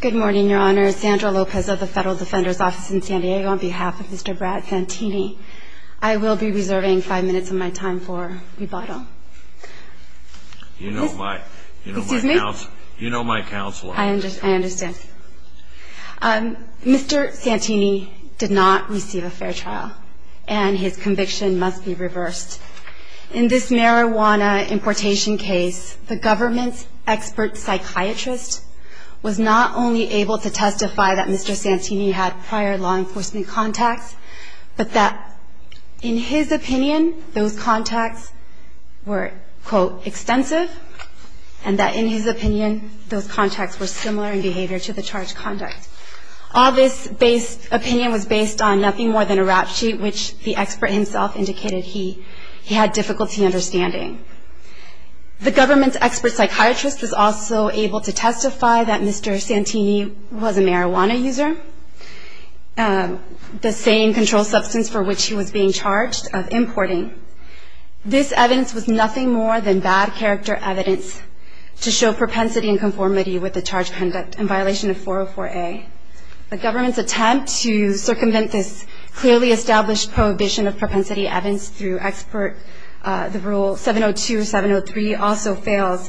Good morning, Your Honor. Sandra Lopez of the Federal Defender's Office in San Diego on behalf of Mr. Brad Santini. I will be reserving five minutes of my time for rebuttal. You know my counsel. I understand. Mr. Santini did not receive a fair trial, and his conviction must be reversed. In this marijuana importation case, the government's expert psychiatrist was not only able to testify that Mr. Santini had prior law enforcement contacts, but that in his opinion those contacts were, quote, extensive, and that in his opinion those contacts were similar in behavior to the charged conduct. All this opinion was based on nothing more than a rap sheet, which the expert himself indicated he had difficulty understanding. The government's expert psychiatrist was also able to testify that Mr. Santini was a marijuana user, the same controlled substance for which he was being charged of importing. This evidence was nothing more than bad character evidence to show propensity and conformity with the charged conduct in violation of 404A. The government's attempt to circumvent this clearly established prohibition of propensity evidence through expert, the rule 702, 703, also fails.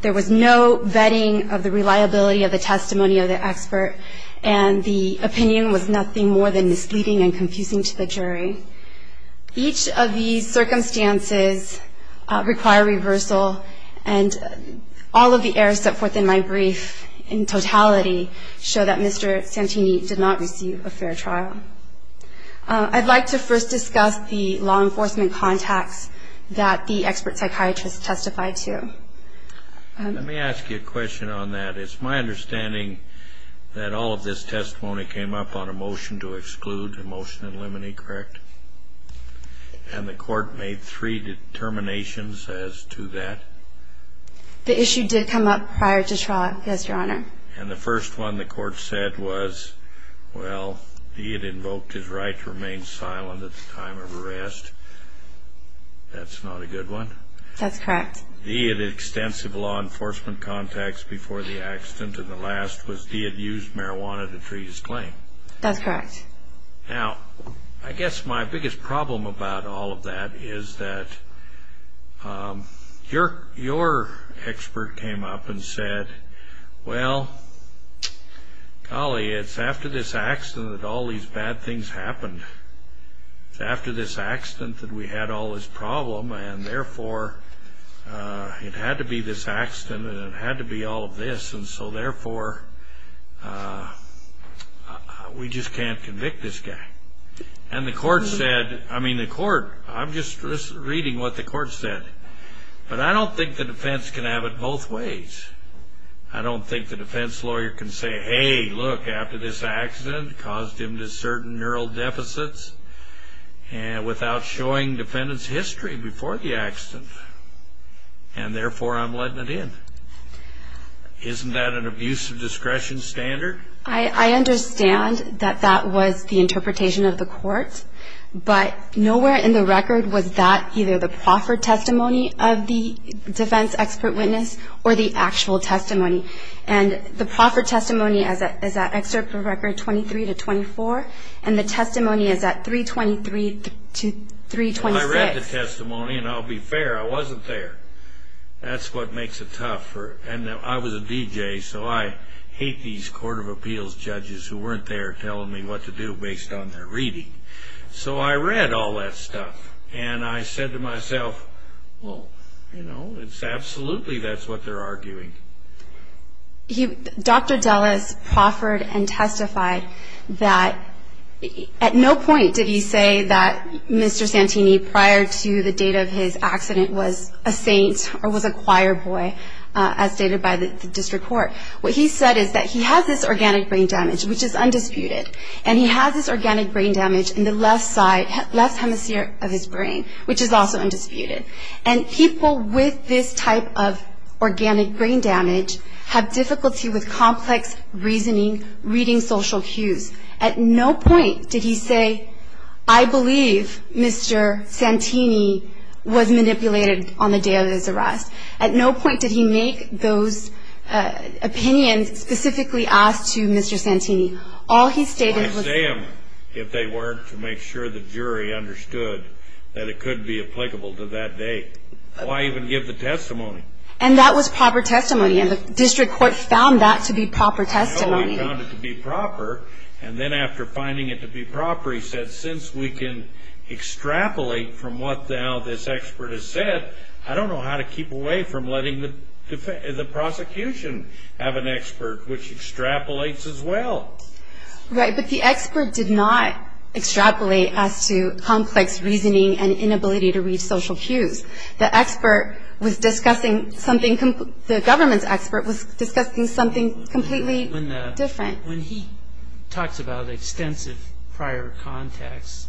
There was no vetting of the reliability of the testimony of the expert, and the opinion was nothing more than misleading and confusing to the jury. Each of these circumstances require reversal, and all of the errors set forth in my brief in totality show that Mr. Santini did not receive a fair trial. I'd like to first discuss the law enforcement contacts that the expert psychiatrist testified to. Let me ask you a question on that. It's my understanding that all of this testimony came up on a motion to exclude, a motion to eliminate, correct? And the court made three determinations as to that? The issue did come up prior to trial, yes, Your Honor. And the first one the court said was, well, he had invoked his right to remain silent at the time of arrest. That's not a good one. That's correct. He had extensive law enforcement contacts before the accident, and the last was he had used marijuana to treat his claim. That's correct. Now, I guess my biggest problem about all of that is that your expert came up and said, well, golly, it's after this accident that all these bad things happened. It's after this accident that we had all this problem, and therefore, it had to be this accident and it had to be all of this, and so therefore, we just can't convict this guy. And the court said, I mean, the court, I'm just reading what the court said. But I don't think the defense can have it both ways. I don't think the defense lawyer can say, hey, look, after this accident caused him to certain neural deficits without showing defendant's history before the accident, and therefore, I'm letting it in. Isn't that an abuse of discretion standard? I understand that that was the interpretation of the court, but nowhere in the record was that either the proffered testimony of the defense expert witness or the actual testimony. And the proffered testimony is that excerpt of record 23 to 24, and the testimony is that 323 to 326. I read the testimony, and I'll be fair. I wasn't there. That's what makes it tough. And I was a DJ, so I hate these court of appeals judges who weren't there telling me what to do based on their reading. So I read all that stuff, and I said to myself, well, you know, it's absolutely that's what they're arguing. Dr. Dulles proffered and testified that at no point did he say that Mr. Santini, prior to the date of his accident, was a saint or was a choir boy, as stated by the district court. What he said is that he has this organic brain damage, which is undisputed, and he has this organic brain damage in the left side, left hemisphere of his brain, which is also undisputed. And people with this type of organic brain damage have difficulty with complex reasoning, reading social cues. At no point did he say, I believe Mr. Santini was manipulated on the day of his arrest. At no point did he make those opinions specifically asked to Mr. Santini. All he stated was- Why say them if they weren't to make sure the jury understood that it could be applicable to that day? Why even give the testimony? And that was proper testimony, and the district court found that to be proper testimony. They found it to be proper, and then after finding it to be proper, he said, since we can extrapolate from what now this expert has said, I don't know how to keep away from letting the prosecution have an expert which extrapolates as well. Right, but the expert did not extrapolate as to complex reasoning and inability to read social cues. The expert was discussing something, the government's expert was discussing something completely- Different. When he talks about extensive prior contacts,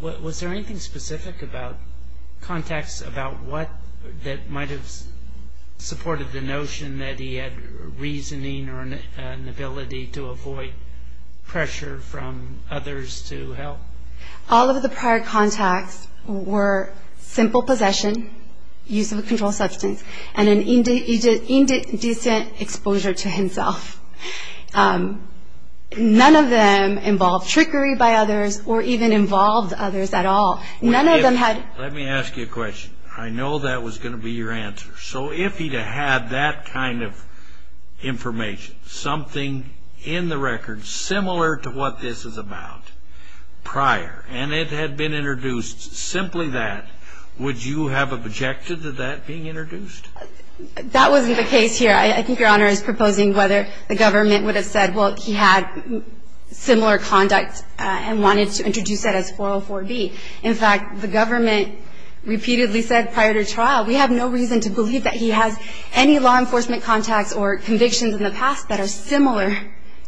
was there anything specific about contacts that might have supported the notion that he had reasoning or an ability to avoid pressure from others to help? All of the prior contacts were simple possession, use of a controlled substance, and an indecent exposure to himself. None of them involved trickery by others or even involved others at all. None of them had- Let me ask you a question. I know that was going to be your answer. So if he had that kind of information, something in the record similar to what this is about, prior, and it had been introduced simply that, would you have objected to that being introduced? That wasn't the case here. I think Your Honor is proposing whether the government would have said, well, he had similar conduct and wanted to introduce that as 404B. In fact, the government repeatedly said prior to trial, we have no reason to believe that he has any law enforcement contacts or convictions in the past that are similar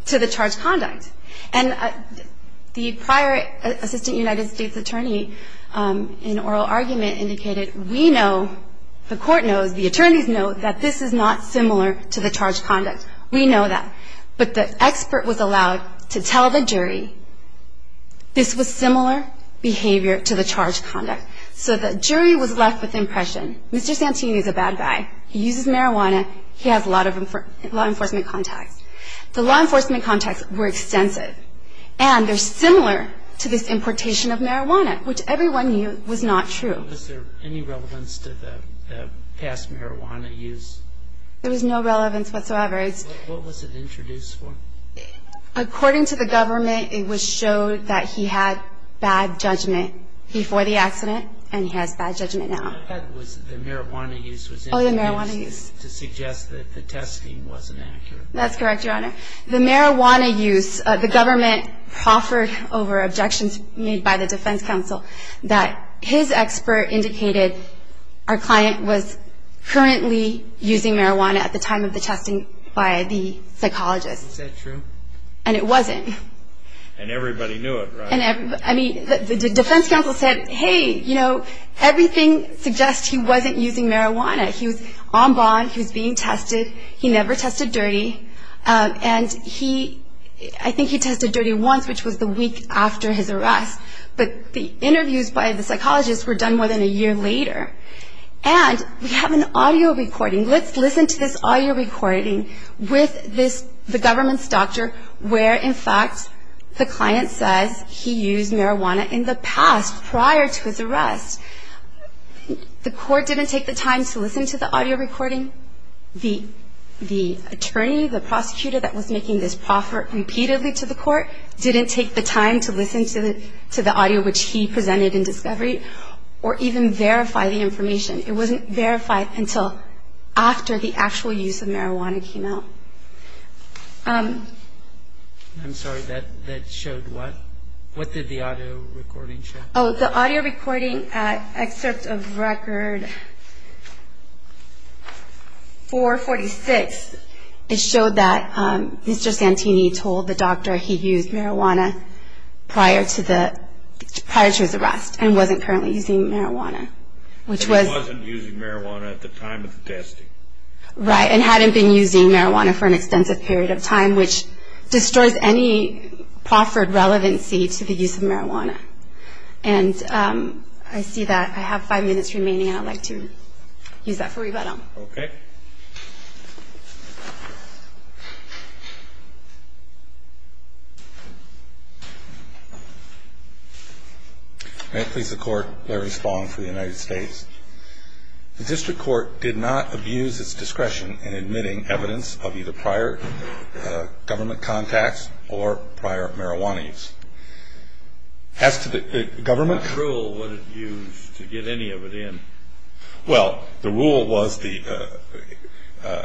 to the charged conduct. And the prior assistant United States attorney in oral argument indicated, we know, the court knows, the attorneys know, that this is not similar to the charged conduct. We know that. But the expert was allowed to tell the jury this was similar behavior to the charged conduct. So the jury was left with the impression, Mr. Santini is a bad guy. He uses marijuana. He has a lot of law enforcement contacts. The law enforcement contacts were extensive, and they're similar to this importation of marijuana, which everyone knew was not true. Was there any relevance to the past marijuana use? There was no relevance whatsoever. What was it introduced for? According to the government, it was showed that he had bad judgment before the accident, and he has bad judgment now. The marijuana use was introduced to suggest that the testing wasn't accurate. That's correct, Your Honor. The marijuana use, the government proffered over objections made by the defense counsel that his expert indicated our client was currently using marijuana at the time of the testing by the psychologist. Is that true? And it wasn't. And everybody knew it, right? I mean, the defense counsel said, hey, you know, everything suggests he wasn't using marijuana. He was on bond. He was being tested. He never tested dirty. And I think he tested dirty once, which was the week after his arrest. But the interviews by the psychologist were done more than a year later. And we have an audio recording. Let's listen to this audio recording with the government's doctor, where, in fact, the client says he used marijuana in the past prior to his arrest. The court didn't take the time to listen to the audio recording. The attorney, the prosecutor that was making this proffer repeatedly to the court, didn't take the time to listen to the audio which he presented in discovery or even verify the information. It wasn't verified until after the actual use of marijuana came out. I'm sorry. That showed what? What did the audio recording show? Oh, the audio recording excerpt of record 446, it showed that Mr. Santini told the doctor he used marijuana prior to his arrest and wasn't currently using marijuana, which was... And he wasn't using marijuana at the time of the testing. Right, and hadn't been using marijuana for an extensive period of time, which destroys any proffered relevancy to the use of marijuana. And I see that I have five minutes remaining, and I'd like to use that for rebuttal. Okay. May it please the Court, Larry Spong for the United States. The district court did not abuse its discretion in admitting evidence of either prior government contacts or prior marijuana use. As to the government... What rule would it use to get any of it in? Well, the rule was the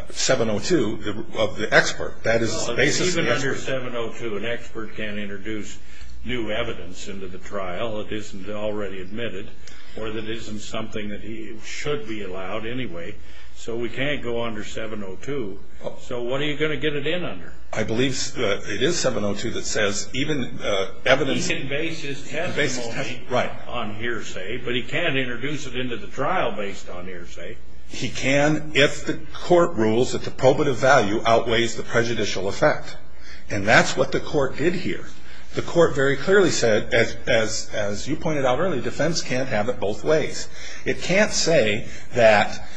702 of the expert. That is the basis of the expert. Well, even under 702, an expert can't introduce new evidence into the trial that isn't already admitted or that isn't something that should be allowed anyway, so we can't go under 702. So what are you going to get it in under? I believe it is 702 that says even evidence... He can base his testimony on hearsay, but he can't introduce it into the trial based on hearsay. He can if the court rules that the probative value outweighs the prejudicial effect, and that's what the court did here. The court very clearly said, as you pointed out earlier, defense can't have it both ways. It can't say that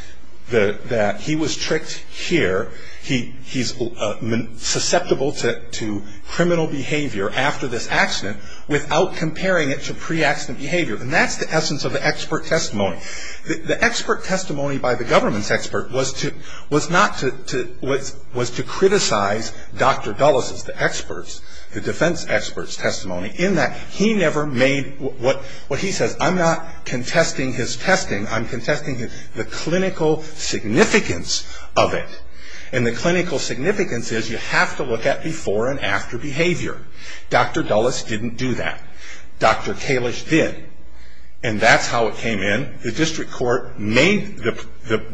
he was tricked here, he's susceptible to criminal behavior after this accident, without comparing it to pre-accident behavior, and that's the essence of the expert testimony. The expert testimony by the government's expert was to criticize Dr. Dulles' experts, the defense expert's testimony, in that he never made what he says, I'm not contesting his testing, I'm contesting the clinical significance of it, and the clinical significance is you have to look at before and after behavior. Dr. Dulles didn't do that. Dr. Kalish did, and that's how it came in. The district court made the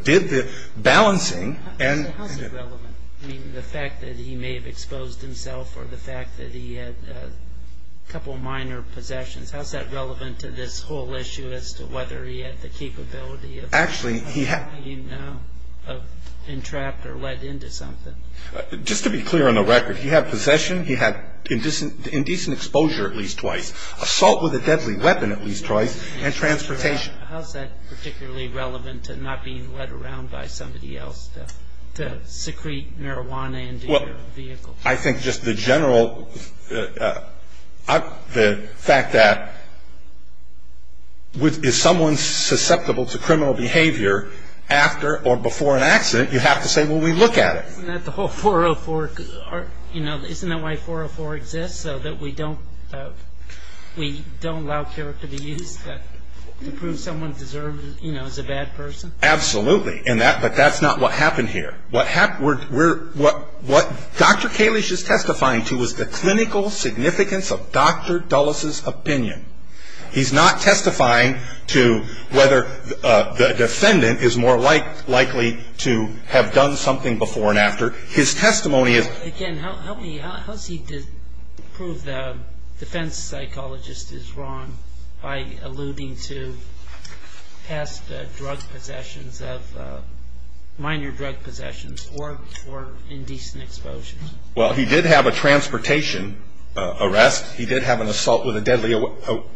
– did the balancing and... How's it relevant? I mean, the fact that he may have exposed himself or the fact that he had a couple minor possessions, how's that relevant to this whole issue as to whether he had the capability of... Actually, he had...... of being entrapped or led into something? Just to be clear on the record, he had possession, he had indecent exposure at least twice, assault with a deadly weapon at least twice, and transportation. How's that particularly relevant to not being led around by somebody else to secrete marijuana into your vehicle? Well, I think just the general – the fact that with – if someone's susceptible to criminal behavior after or before an accident, you have to say, well, we look at it. Isn't that the whole 404 – you know, isn't that why 404 exists, so that we don't allow character to be used to prove someone deserves – you know, is a bad person? Absolutely, but that's not what happened here. What happened – what Dr. Kalish is testifying to is the clinical significance of Dr. Dulles' opinion. He's not testifying to whether the defendant is more likely to have done something before and after. His testimony is... To prove the defense psychologist is wrong by alluding to past drug possessions of – minor drug possessions or indecent exposure. Well, he did have a transportation arrest. He did have an assault with a deadly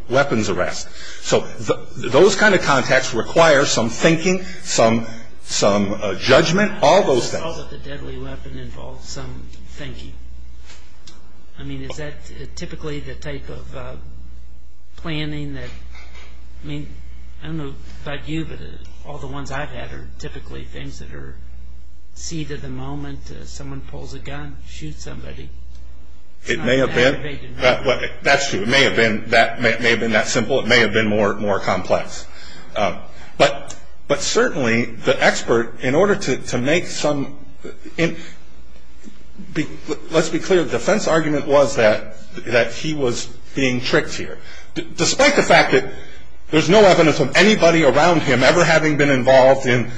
weapons arrest. So those kind of contacts require some thinking, some judgment, all those things. Assault with a deadly weapon involves some thinking. I mean, is that typically the type of planning that – I mean, I don't know about you, but all the ones I've had are typically things that are seat of the moment. Someone pulls a gun, shoots somebody. It may have been – that's true. It may have been that simple. It may have been more complex. But certainly the expert, in order to make some – let's be clear. The defense argument was that he was being tricked here, despite the fact that there's no evidence of anybody around him ever having been involved in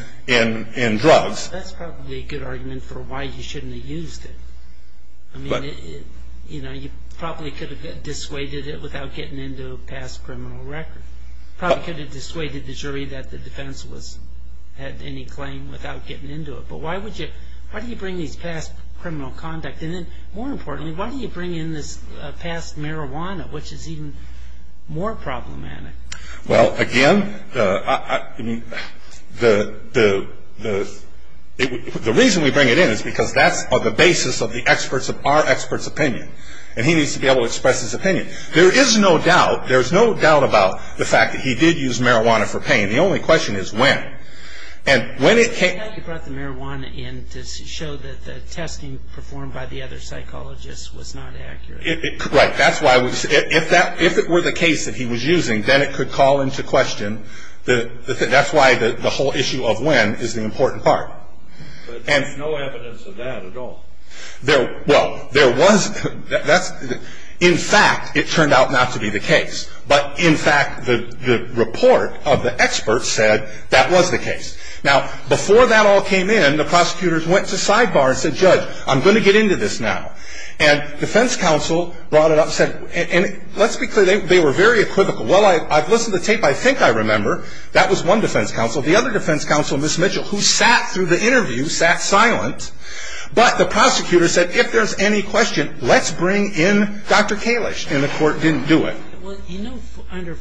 drugs. That's probably a good argument for why he shouldn't have used it. I mean, you probably could have dissuaded it without getting into a past criminal record. You probably could have dissuaded the jury that the defense had any claim without getting into it. But why would you – why do you bring these past criminal conduct? And then, more importantly, why do you bring in this past marijuana, which is even more problematic? Well, again, the reason we bring it in is because that's on the basis of the experts, of our experts' opinion. And he needs to be able to express his opinion. There is no doubt. There's no doubt about the fact that he did use marijuana for pain. The only question is when. And when it came – I thought you brought the marijuana in to show that the testing performed by the other psychologists was not accurate. Right. That's why – if it were the case that he was using, then it could call into question – that's why the whole issue of when is the important part. But there's no evidence of that at all. Well, there was – that's – in fact, it turned out not to be the case. But, in fact, the report of the experts said that was the case. Now, before that all came in, the prosecutors went to sidebar and said, Judge, I'm going to get into this now. And defense counsel brought it up and said – and let's be clear. They were very equivocal. Well, I've listened to the tape. I think I remember that was one defense counsel. The other defense counsel, Ms. Mitchell, who sat through the interview, sat silent. But the prosecutor said, if there's any question, let's bring in Dr. Kalish. And the court didn't do it. Well, you know under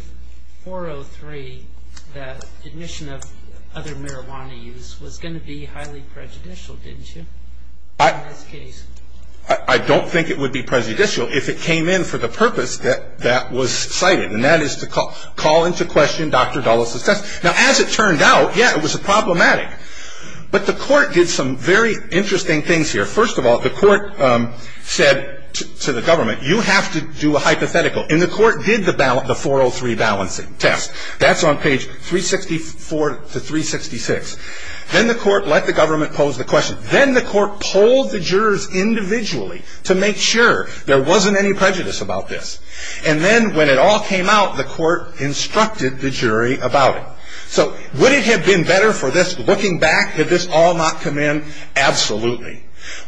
403 that admission of other marijuana use was going to be highly prejudicial, didn't you, in this case? I don't think it would be prejudicial if it came in for the purpose that that was cited, and that is to call into question Dr. Dulles' test. Now, as it turned out, yeah, it was problematic. But the court did some very interesting things here. First of all, the court said to the government, you have to do a hypothetical. And the court did the 403 balancing test. That's on page 364 to 366. Then the court let the government pose the question. Then the court polled the jurors individually to make sure there wasn't any prejudice about this. And then when it all came out, the court instructed the jury about it. So would it have been better for this, looking back, had this all not come in? Absolutely.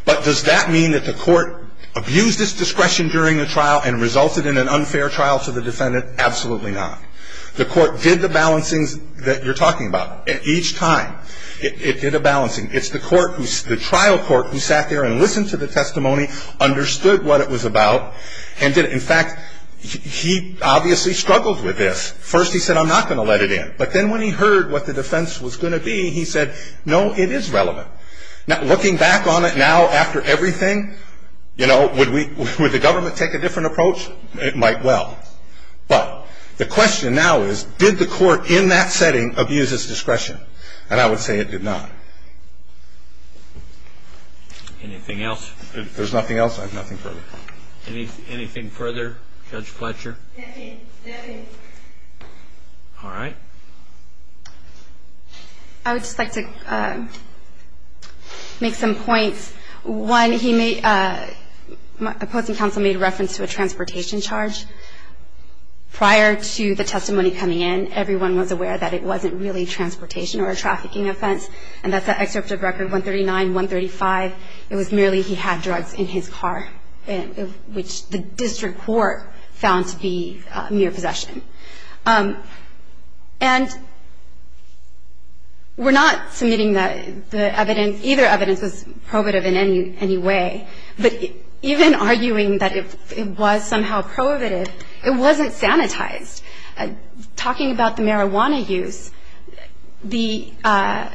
But does that mean that the court abused its discretion during the trial and resulted in an unfair trial to the defendant? Absolutely not. The court did the balancings that you're talking about. Each time it did a balancing. It's the trial court who sat there and listened to the testimony, understood what it was about, and did it. In fact, he obviously struggled with this. First he said, I'm not going to let it in. But then when he heard what the defense was going to be, he said, no, it is relevant. Now, looking back on it now after everything, you know, would the government take a different approach? It might well. But the question now is, did the court in that setting abuse its discretion? And I would say it did not. Anything else? If there's nothing else, I have nothing further. Anything further? Judge Fletcher? Nothing, nothing. All right. I would just like to make some points. One, he made, opposing counsel made reference to a transportation charge. Prior to the testimony coming in, everyone was aware that it wasn't really transportation or a trafficking offense. And that's an excerpt of record 139, 135. It was merely he had drugs in his car, which the district court found to be mere possession. And we're not submitting the evidence. Either evidence was prohibitive in any way. But even arguing that it was somehow prohibitive, it wasn't sanitized. Talking about the marijuana use, our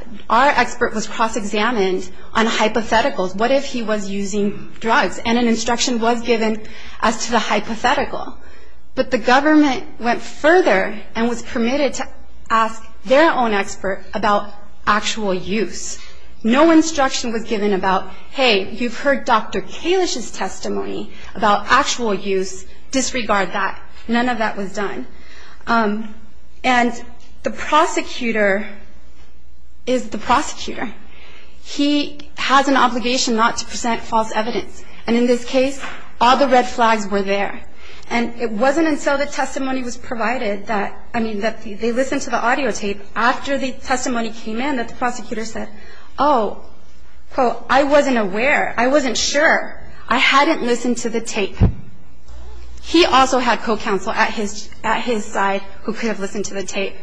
expert was cross-examined on hypotheticals. What if he was using drugs? And an instruction was given as to the hypothetical. But the government went further and was permitted to ask their own expert about actual use. No instruction was given about, hey, you've heard Dr. Kalish's testimony about actual use. Disregard that. None of that was done. And the prosecutor is the prosecutor. He has an obligation not to present false evidence. And in this case, all the red flags were there. And it wasn't until the testimony was provided that, I mean, that they listened to the audio tape, after the testimony came in that the prosecutor said, oh, quote, I wasn't aware, I wasn't sure. I hadn't listened to the tape. He also had co-counsel at his side who could have listened to the tape.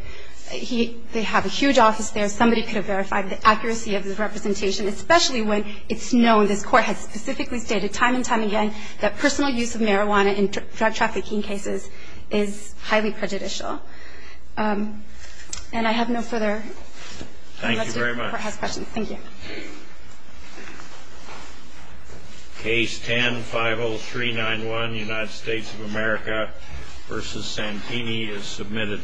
They have a huge office there. Somebody could have verified the accuracy of the representation, especially when it's known, this Court has specifically stated time and time again, that personal use of marijuana in drug trafficking cases is highly prejudicial. And I have no further. Thank you very much. Unless the Court has questions. Thank you. Case 10-50391, United States of America v. Santini is submitted.